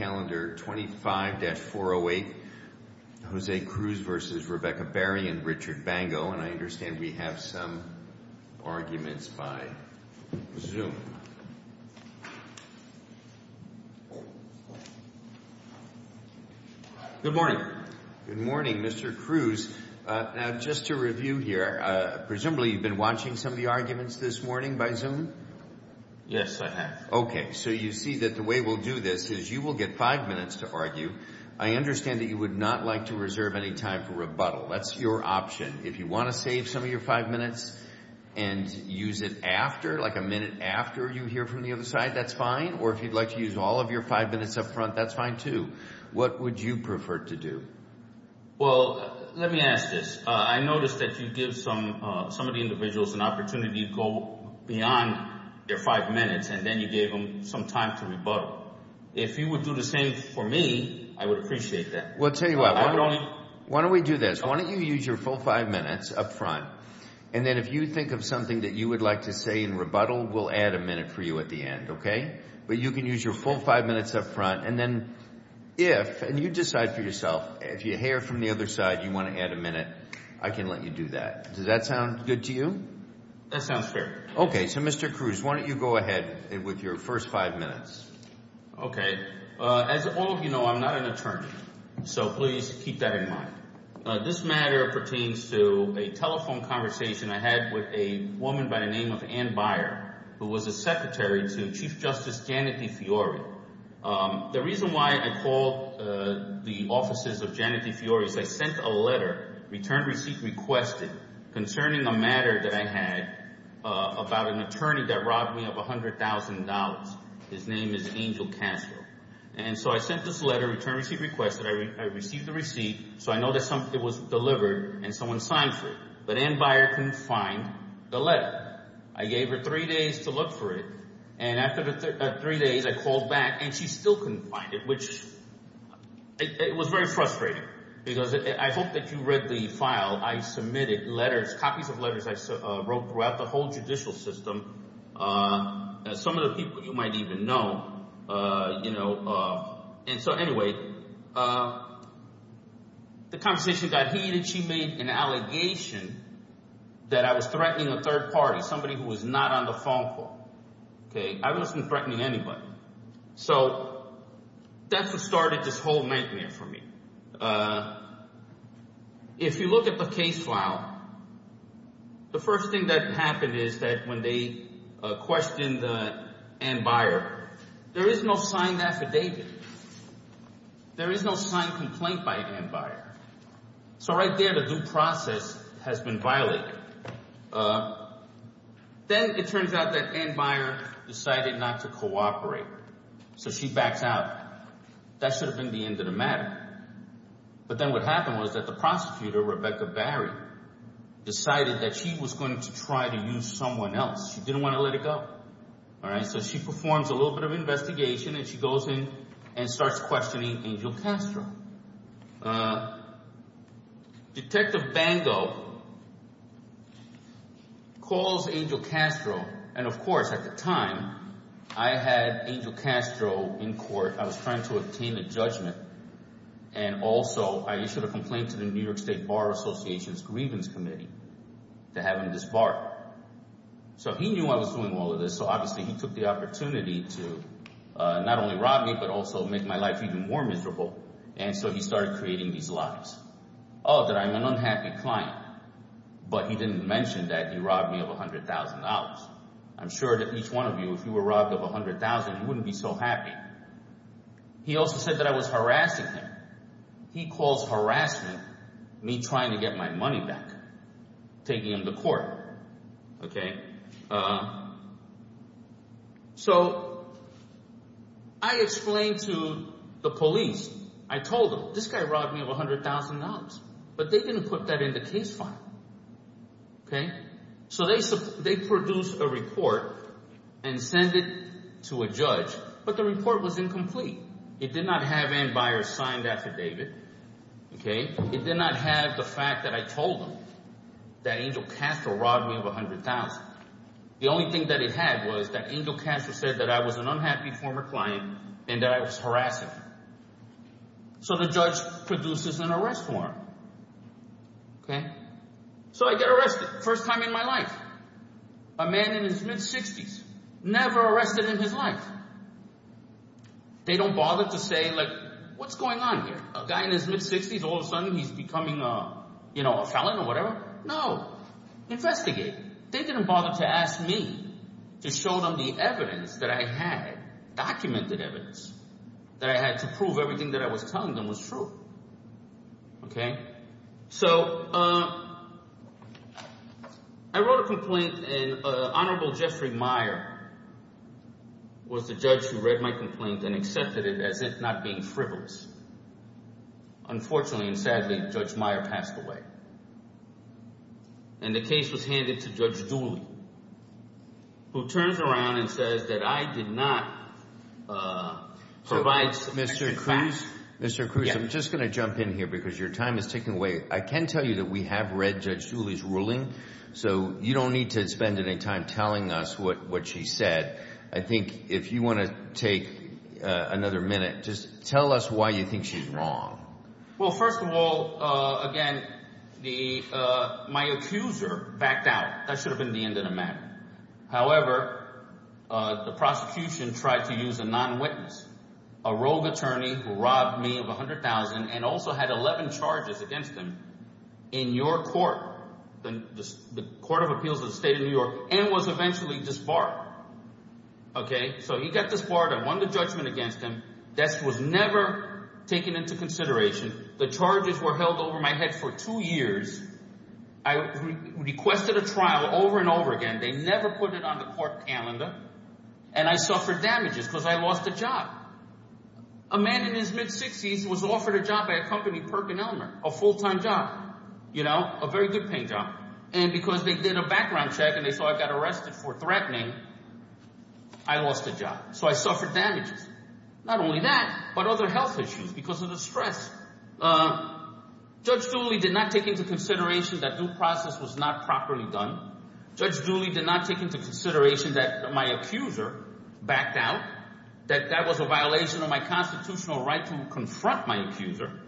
and Richard Bango, and I understand we have some arguments by Zoom. Good morning. Good morning, Mr. Cruz. Now, just to review here, presumably you've been watching some of the arguments this morning by Zoom? Yes, I have. Okay, so you see that the way we'll do this is you will get five minutes to argue. I understand that you would not like to reserve any time for rebuttal. That's your option. If you want to save some of your five minutes and use it after, like a minute after you hear from the other side, that's fine. Or if you'd like to use all of your five minutes up front, that's fine too. What would you prefer to do? Well, let me ask this. I notice that you give some of the individuals an opportunity to go beyond their five minutes, and then you gave them some time to rebuttal. If you would do the same for me, I would appreciate that. Well, I'll tell you what. Why don't we do this? Why don't you use your full five minutes up front, and then if you think of something that you would like to say in rebuttal, we'll add a minute for you at the end, okay? But you can use your full five minutes up front, and then if, and you decide for yourself, if you hear from the other side you want to add a minute, I can let you do that. Does that sound good to you? That sounds fair. Okay. So, Mr. Cruz, why don't you go ahead with your first five minutes? Okay. As all of you know, I'm not an attorney, so please keep that in mind. This matter pertains to a telephone conversation I had with a woman by the name of Ann Byer, who was a secretary to Chief Justice Janet DeFiori. The reason why I called the offices of Janet DeFiori was I sent a letter, return receipt requested, concerning a matter that I had about an attorney that robbed me of $100,000. His name is Angel Castro. And so I sent this letter, return receipt requested. I received the receipt, so I know that something was delivered and someone signed for it. But Ann Byer couldn't find the letter. I gave her three days to look for it, and after the three days, I called back, and she still couldn't find it, which was very frustrating, because I hope that you read the file. I submitted letters, copies of letters I wrote throughout the whole judicial system. Some of the people you might even know. And so anyway, the conversation got heated. She made an allegation that I was threatening a third party, somebody who was not on the phone call. I wasn't threatening anybody. So that's what started this whole nightmare for me. If you look at the case file, the first thing that happened is that when they questioned Ann Byer, there is no signed affidavit. There is no signed complaint by Ann Byer. So right there, the due process has been violated. Then it turns out that Ann Byer decided not to cooperate. So she backs out. That should have been the end of the matter. But then what happened was that the prosecutor, Rebecca Barry, decided that she was going to try to use someone else. She didn't want to let it go. So she performs a little bit of investigation, and she goes and starts questioning Angel Castro. Detective Bango calls Angel Castro. And of course, at the time, I had Angel Castro in court. I was trying to obtain a judgment. And also, I issued a complaint to the New York State Bar Association's grievance committee to have him disbarred. So he knew I was doing all of this. So obviously, he took the opportunity to not only rob me, but also make my life even more miserable. And so he started creating these lies. Oh, that I'm an unhappy client. But he didn't mention that he robbed me of $100,000. I'm sure that each one of you, if you were robbed of $100,000, you wouldn't be so happy. He also said that I was harassing him. He calls harassment me trying to get my money back, taking him to court. So I explained to the police. I told them, this guy robbed me of $100,000. But they didn't put that in the case file. So they produced a report and sent it to a judge. But the report was incomplete. It did not have Ann Byers' signed affidavit. It did not have the fact that I told them that Angel Castro robbed me of $100,000. The only thing that it had was that Angel Castro said that I was an unhappy former client and that I was harassing him. So the judge produces an arrest warrant. So I get arrested, first time in my life. A man in his mid-60s, never arrested in his life. They don't bother to say, what's going on here? A guy in his mid-60s, all of a sudden he's becoming a felon or whatever. No. Investigate. They didn't bother to ask me to show them the evidence that I had, documented evidence, that I had to prove everything that I was telling them was true. I wrote a complaint and Honorable Jeffrey Meyer was the judge who read my complaint and accepted it as it not being frivolous. Unfortunately and sadly, Judge Meyer passed away. And the case was handed to Judge Dooley, who turns around and says that I did not provide sufficient facts. Mr. Cruz, I'm just going to jump in here because your time is ticking away. I can tell you that we have read Judge Dooley's ruling, so you don't need to spend any time telling us what she said. I think if you want to take another minute, just tell us why you think she's wrong. Well, first of all, again, my accuser backed out. That should have been the end of the matter. However, the prosecution tried to use a non-witness, a rogue attorney who robbed me of $100,000 and also had 11 charges against him in your court, the Court of Appeals of the State of New York, and was eventually disbarred. So he got disbarred. I won the judgment against him. That was never taken into consideration. The charges were held over my head for two years. I requested a trial over and over again. They never put it on the court calendar. And I suffered damages because I lost a job. A man in his mid-60s was offered a job by a company, Perkin Elmer, a full-time job, a very good-paying job. And because they did a background check and they saw I got arrested for threatening, I lost a job. So I suffered damages. Not only that, but other health issues because of the stress. Judge Dooley did not take into consideration that due process was not properly done. Judge Dooley did not take into consideration that my accuser backed out, that that was a violation of my constitutional right to confront my accuser,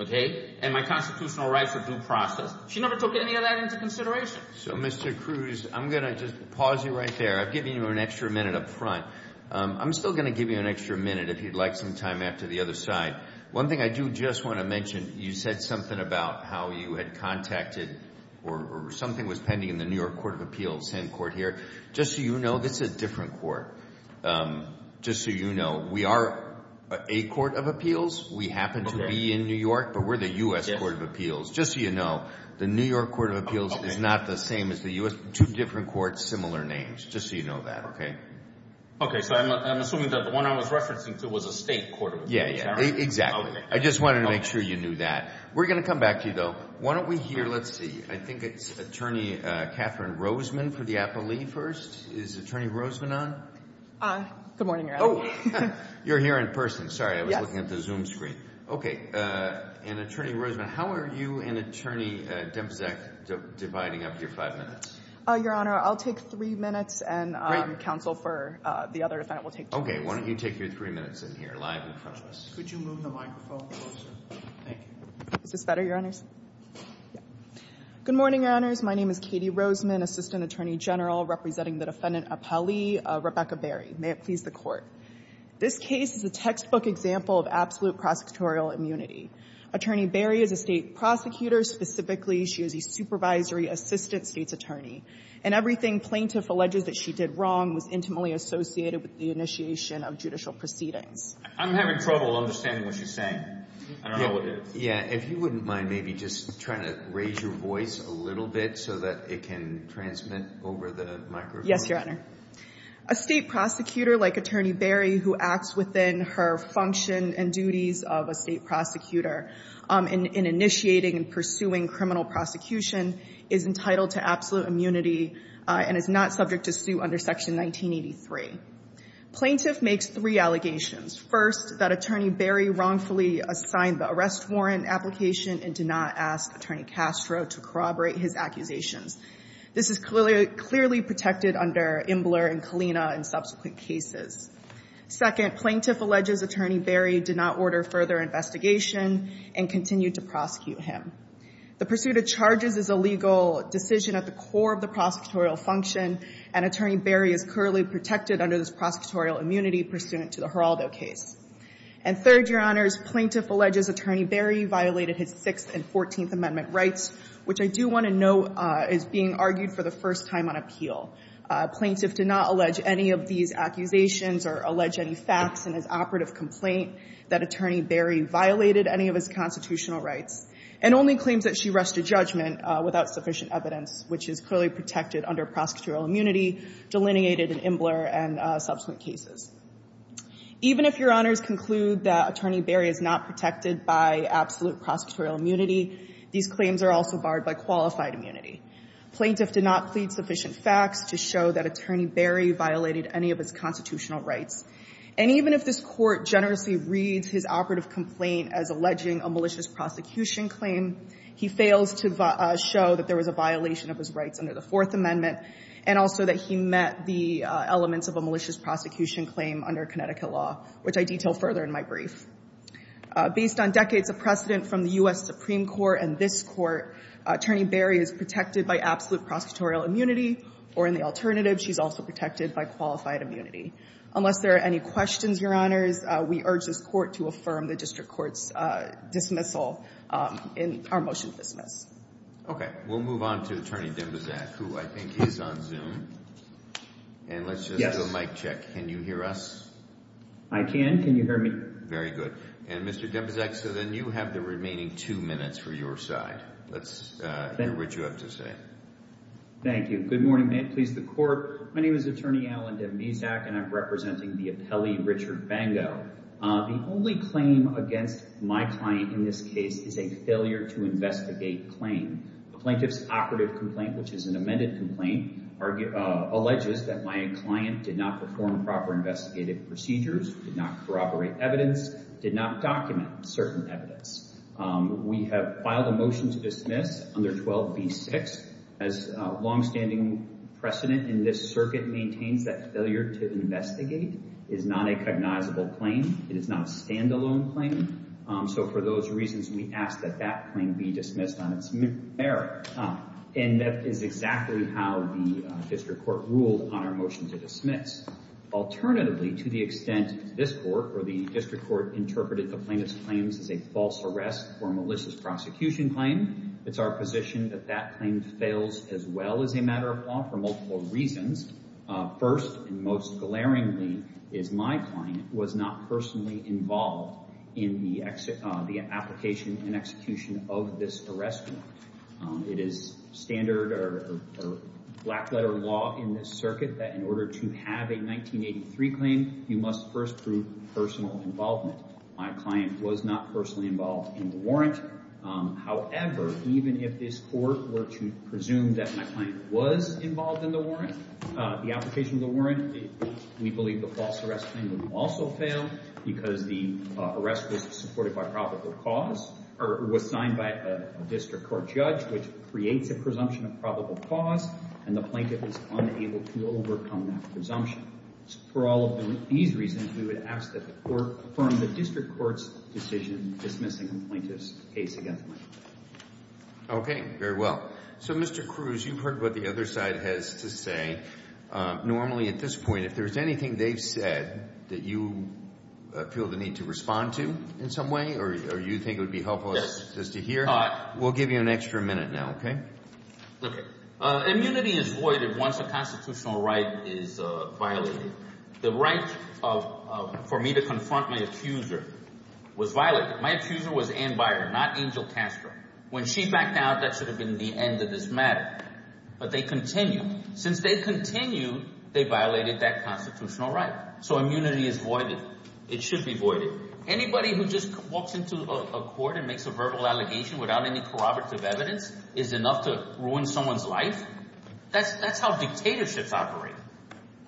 and my constitutional right for due process. She never took any of that into consideration. So, Mr. Cruz, I'm going to just pause you right there. I've given you an extra minute up front. I'm still going to give you an extra minute if you'd like some time after the other side. One thing I do just want to mention, you said something about how you had contacted or something was pending in the New York Court of Appeals, same court here. Just so you know, this is a different court. Just so you know, we are a court of appeals. We happen to be in New York, but we're the U.S. Court of Appeals. Just so you know, the New York Court of Appeals is not the same as the U.S. Two different courts, similar names. Just so you know that, okay? Okay. So I'm assuming that the one I was referencing to was a state court of appeals. Yeah, yeah. Exactly. I just wanted to make sure you knew that. We're going to come back to you, though. Why don't we hear, let's see, I think it's Attorney Catherine Roseman for Attorney Roseman on? Good morning, Your Honor. You're here in person. Sorry, I was looking at the Zoom screen. Okay. And Attorney Roseman, how are you and Attorney Dempsek dividing up your five minutes? Your Honor, I'll take three minutes and counsel for the other defendant will take two minutes. Okay. Why don't you take your three minutes in here, live in front of us. Could you move the microphone closer? Thank you. Is this better, Your Honors? Good morning, Your Honors. My name is Katie Roseman, Assistant Attorney General, representing the Defendant Appellee, Rebecca Berry. May it please the Court. This case is a textbook example of absolute prosecutorial immunity. Attorney Berry is a state prosecutor. Specifically, she is a supervisory assistant state's attorney. And everything plaintiff alleges that she did wrong was intimately associated with the initiation of judicial proceedings. I'm having trouble understanding what she's saying. I don't know what it is. Yeah. If you wouldn't mind maybe just trying to raise your voice a little bit so that it can transmit over the microphone. Yes, Your Honor. A state prosecutor like Attorney Berry, who acts within her function and duties of a state prosecutor in initiating and pursuing criminal prosecution, is entitled to absolute immunity and is not subject to suit under Section 1983. Plaintiff makes three allegations. First, that Attorney Berry wrongfully assigned the arrest warrant application and did not ask Attorney Castro to corroborate his accusations. This is clearly protected under Imbler and Kalina in subsequent cases. Second, plaintiff alleges Attorney Berry did not order further investigation and continued to prosecute him. The pursuit of charges is a legal decision at the core of the prosecutorial function, and Attorney Berry is currently protected under this prosecutorial immunity pursuant to the Geraldo case. And third, Your Honors, plaintiff alleges Attorney Berry violated his Sixth and Fourteenth Amendment rights, which I do want to note is being argued for the first time on appeal. Plaintiff did not allege any of these accusations or allege any facts in his operative complaint that Attorney Berry violated any of his constitutional rights, and only claims that she rushed a judgment without sufficient evidence, which is clearly protected under prosecutorial immunity, delineated in Imbler and Kalina. Your Honors conclude that Attorney Berry is not protected by absolute prosecutorial immunity. These claims are also barred by qualified immunity. Plaintiff did not plead sufficient facts to show that Attorney Berry violated any of his constitutional rights. And even if this Court generously reads his operative complaint as alleging a malicious prosecution claim, he fails to show that there was a violation of his rights under the Fourth Amendment and also that he met the requirements of a malicious prosecution claim under Connecticut law, which I detail further in my brief. Based on decades of precedent from the U.S. Supreme Court and this Court, Attorney Berry is protected by absolute prosecutorial immunity, or in the alternative, she's also protected by qualified immunity. Unless there are any questions, Your Honors, we urge this Court to affirm the district court's dismissal in our motion to dismiss. Okay. We'll move on to Attorney Dembeczak, who I think is on Zoom. And let's just do a mic check. Can you hear us? I can. Can you hear me? Very good. And Mr. Dembeczak, so then you have the remaining two minutes for your side. Let's hear what you have to say. Thank you. Good morning, please, the Court. My name is Attorney Alan Dembeczak, and I'm representing the appellee Richard Bango. The only claim against my client in this case is a failure to investigate claim. The plaintiff's operative complaint, which is an amended complaint, alleges that my client did not perform proper investigative procedures, did not corroborate evidence, did not document certain evidence. We have filed a motion to dismiss under 12b6. As longstanding precedent in this circuit maintains that failure to investigate is not a stand-alone claim. So for those reasons, we ask that that claim be dismissed on its merits. And that is exactly how the District Court ruled on our motion to dismiss. Alternatively, to the extent this Court or the District Court interpreted the plaintiff's claims as a false arrest or malicious prosecution claim, it's our position that that claim fails as well as a matter of law for multiple reasons. First, and most glaringly, is my client was not personally involved in the application and execution of this arrest warrant. It is standard or black-letter law in this circuit that in order to have a 1983 claim, you must first prove personal involvement. My client was not personally involved in the warrant. However, even if this Court were to presume that my client was involved in the warrant, the application of the warrant, we believe the false arrest claim would also fail because the arrest was supported by probable cause or was signed by a District Court judge, which creates a presumption of probable cause, and the plaintiff is unable to overcome that presumption. For all of these reasons, we would ask that the Court confirm the District Court's decision dismissing the plaintiff's case against me. Okay. Very well. So, Mr. Cruz, you've heard what the other side has to say. Normally at this point, if there's anything they've said that you feel the need to respond to in some way or you think it would be helpful just to hear, we'll give you an extra minute now, okay? Okay. Immunity is voided once a constitutional right is violated. The right for me to confront my accuser was violated. My accuser was Ann Byer, not Angel Castro. When she backed out, that should have been the end of this matter. But they continued. Since they continued, they violated that constitutional right. So immunity is voided. It should be voided. Anybody who just walks into a court and makes a verbal allegation without any corroborative evidence is enough to ruin someone's life. That's how dictatorships operate,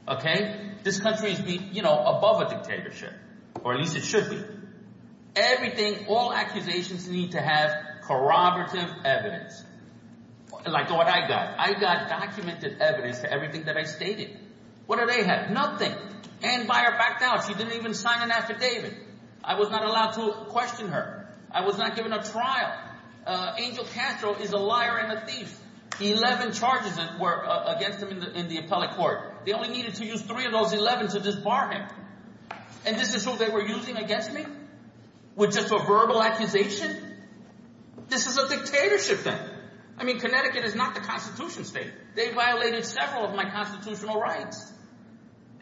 okay? This country is, you know, above a dictatorship, or at least it should be. Everything, all accusations need to have corroborative evidence, like what I got. I got documented evidence to everything that I stated. What do they have? Nothing. Ann Byer backed out. She didn't even sign an affidavit. I was not allowed to question her. I was not given a trial. Angel Castro is a liar and a They only needed to use three of those 11 to disbar him. And this is who they were using against me? With just a verbal accusation? This is a dictatorship then. I mean, Connecticut is not the Constitution State. They violated several of my constitutional rights.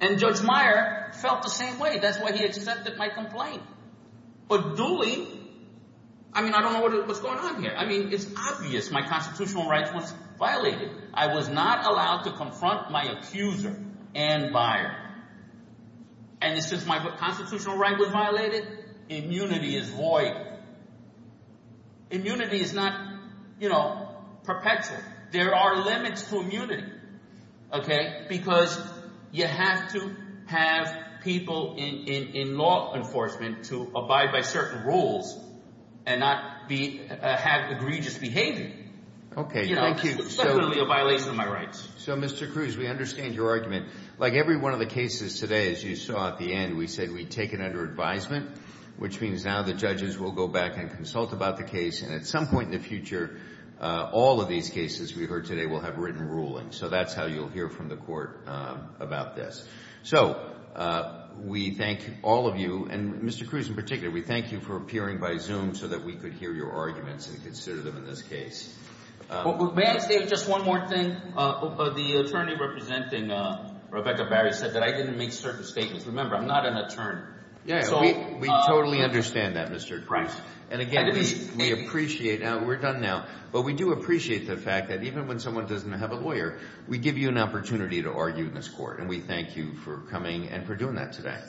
And Judge Meyer felt the same way. That's why he accepted my complaint. But Dooley, I mean, I don't know what's going on here. I mean, it's not allowed to confront my accuser, Ann Byer. And since my constitutional right was violated, immunity is void. Immunity is not, you know, perpetual. There are limits to immunity, okay? Because you have to have people in law enforcement to abide by certain rules and not have egregious behavior. Okay, thank you. So, Mr. Cruz, we understand your argument. Like every one of the cases today, as you saw at the end, we said we'd take it under advisement, which means now the judges will go back and consult about the case. And at some point in the future, all of these cases we heard today will have written rulings. So that's how you'll hear from the court about this. So we thank all of you, and Mr. Cruz in particular, we thank you for appearing by Zoom so that we could hear your arguments and consider them in this case. May I say just one more thing? The attorney representing Rebecca Barry said that I didn't make certain statements. Remember, I'm not an attorney. Yeah, we totally understand that, Mr. Cruz. And again, we appreciate that. We're done now. But we do appreciate the fact that even when someone doesn't have a lawyer, we give you an opportunity to argue in this court. And we thank you for coming and for doing that today.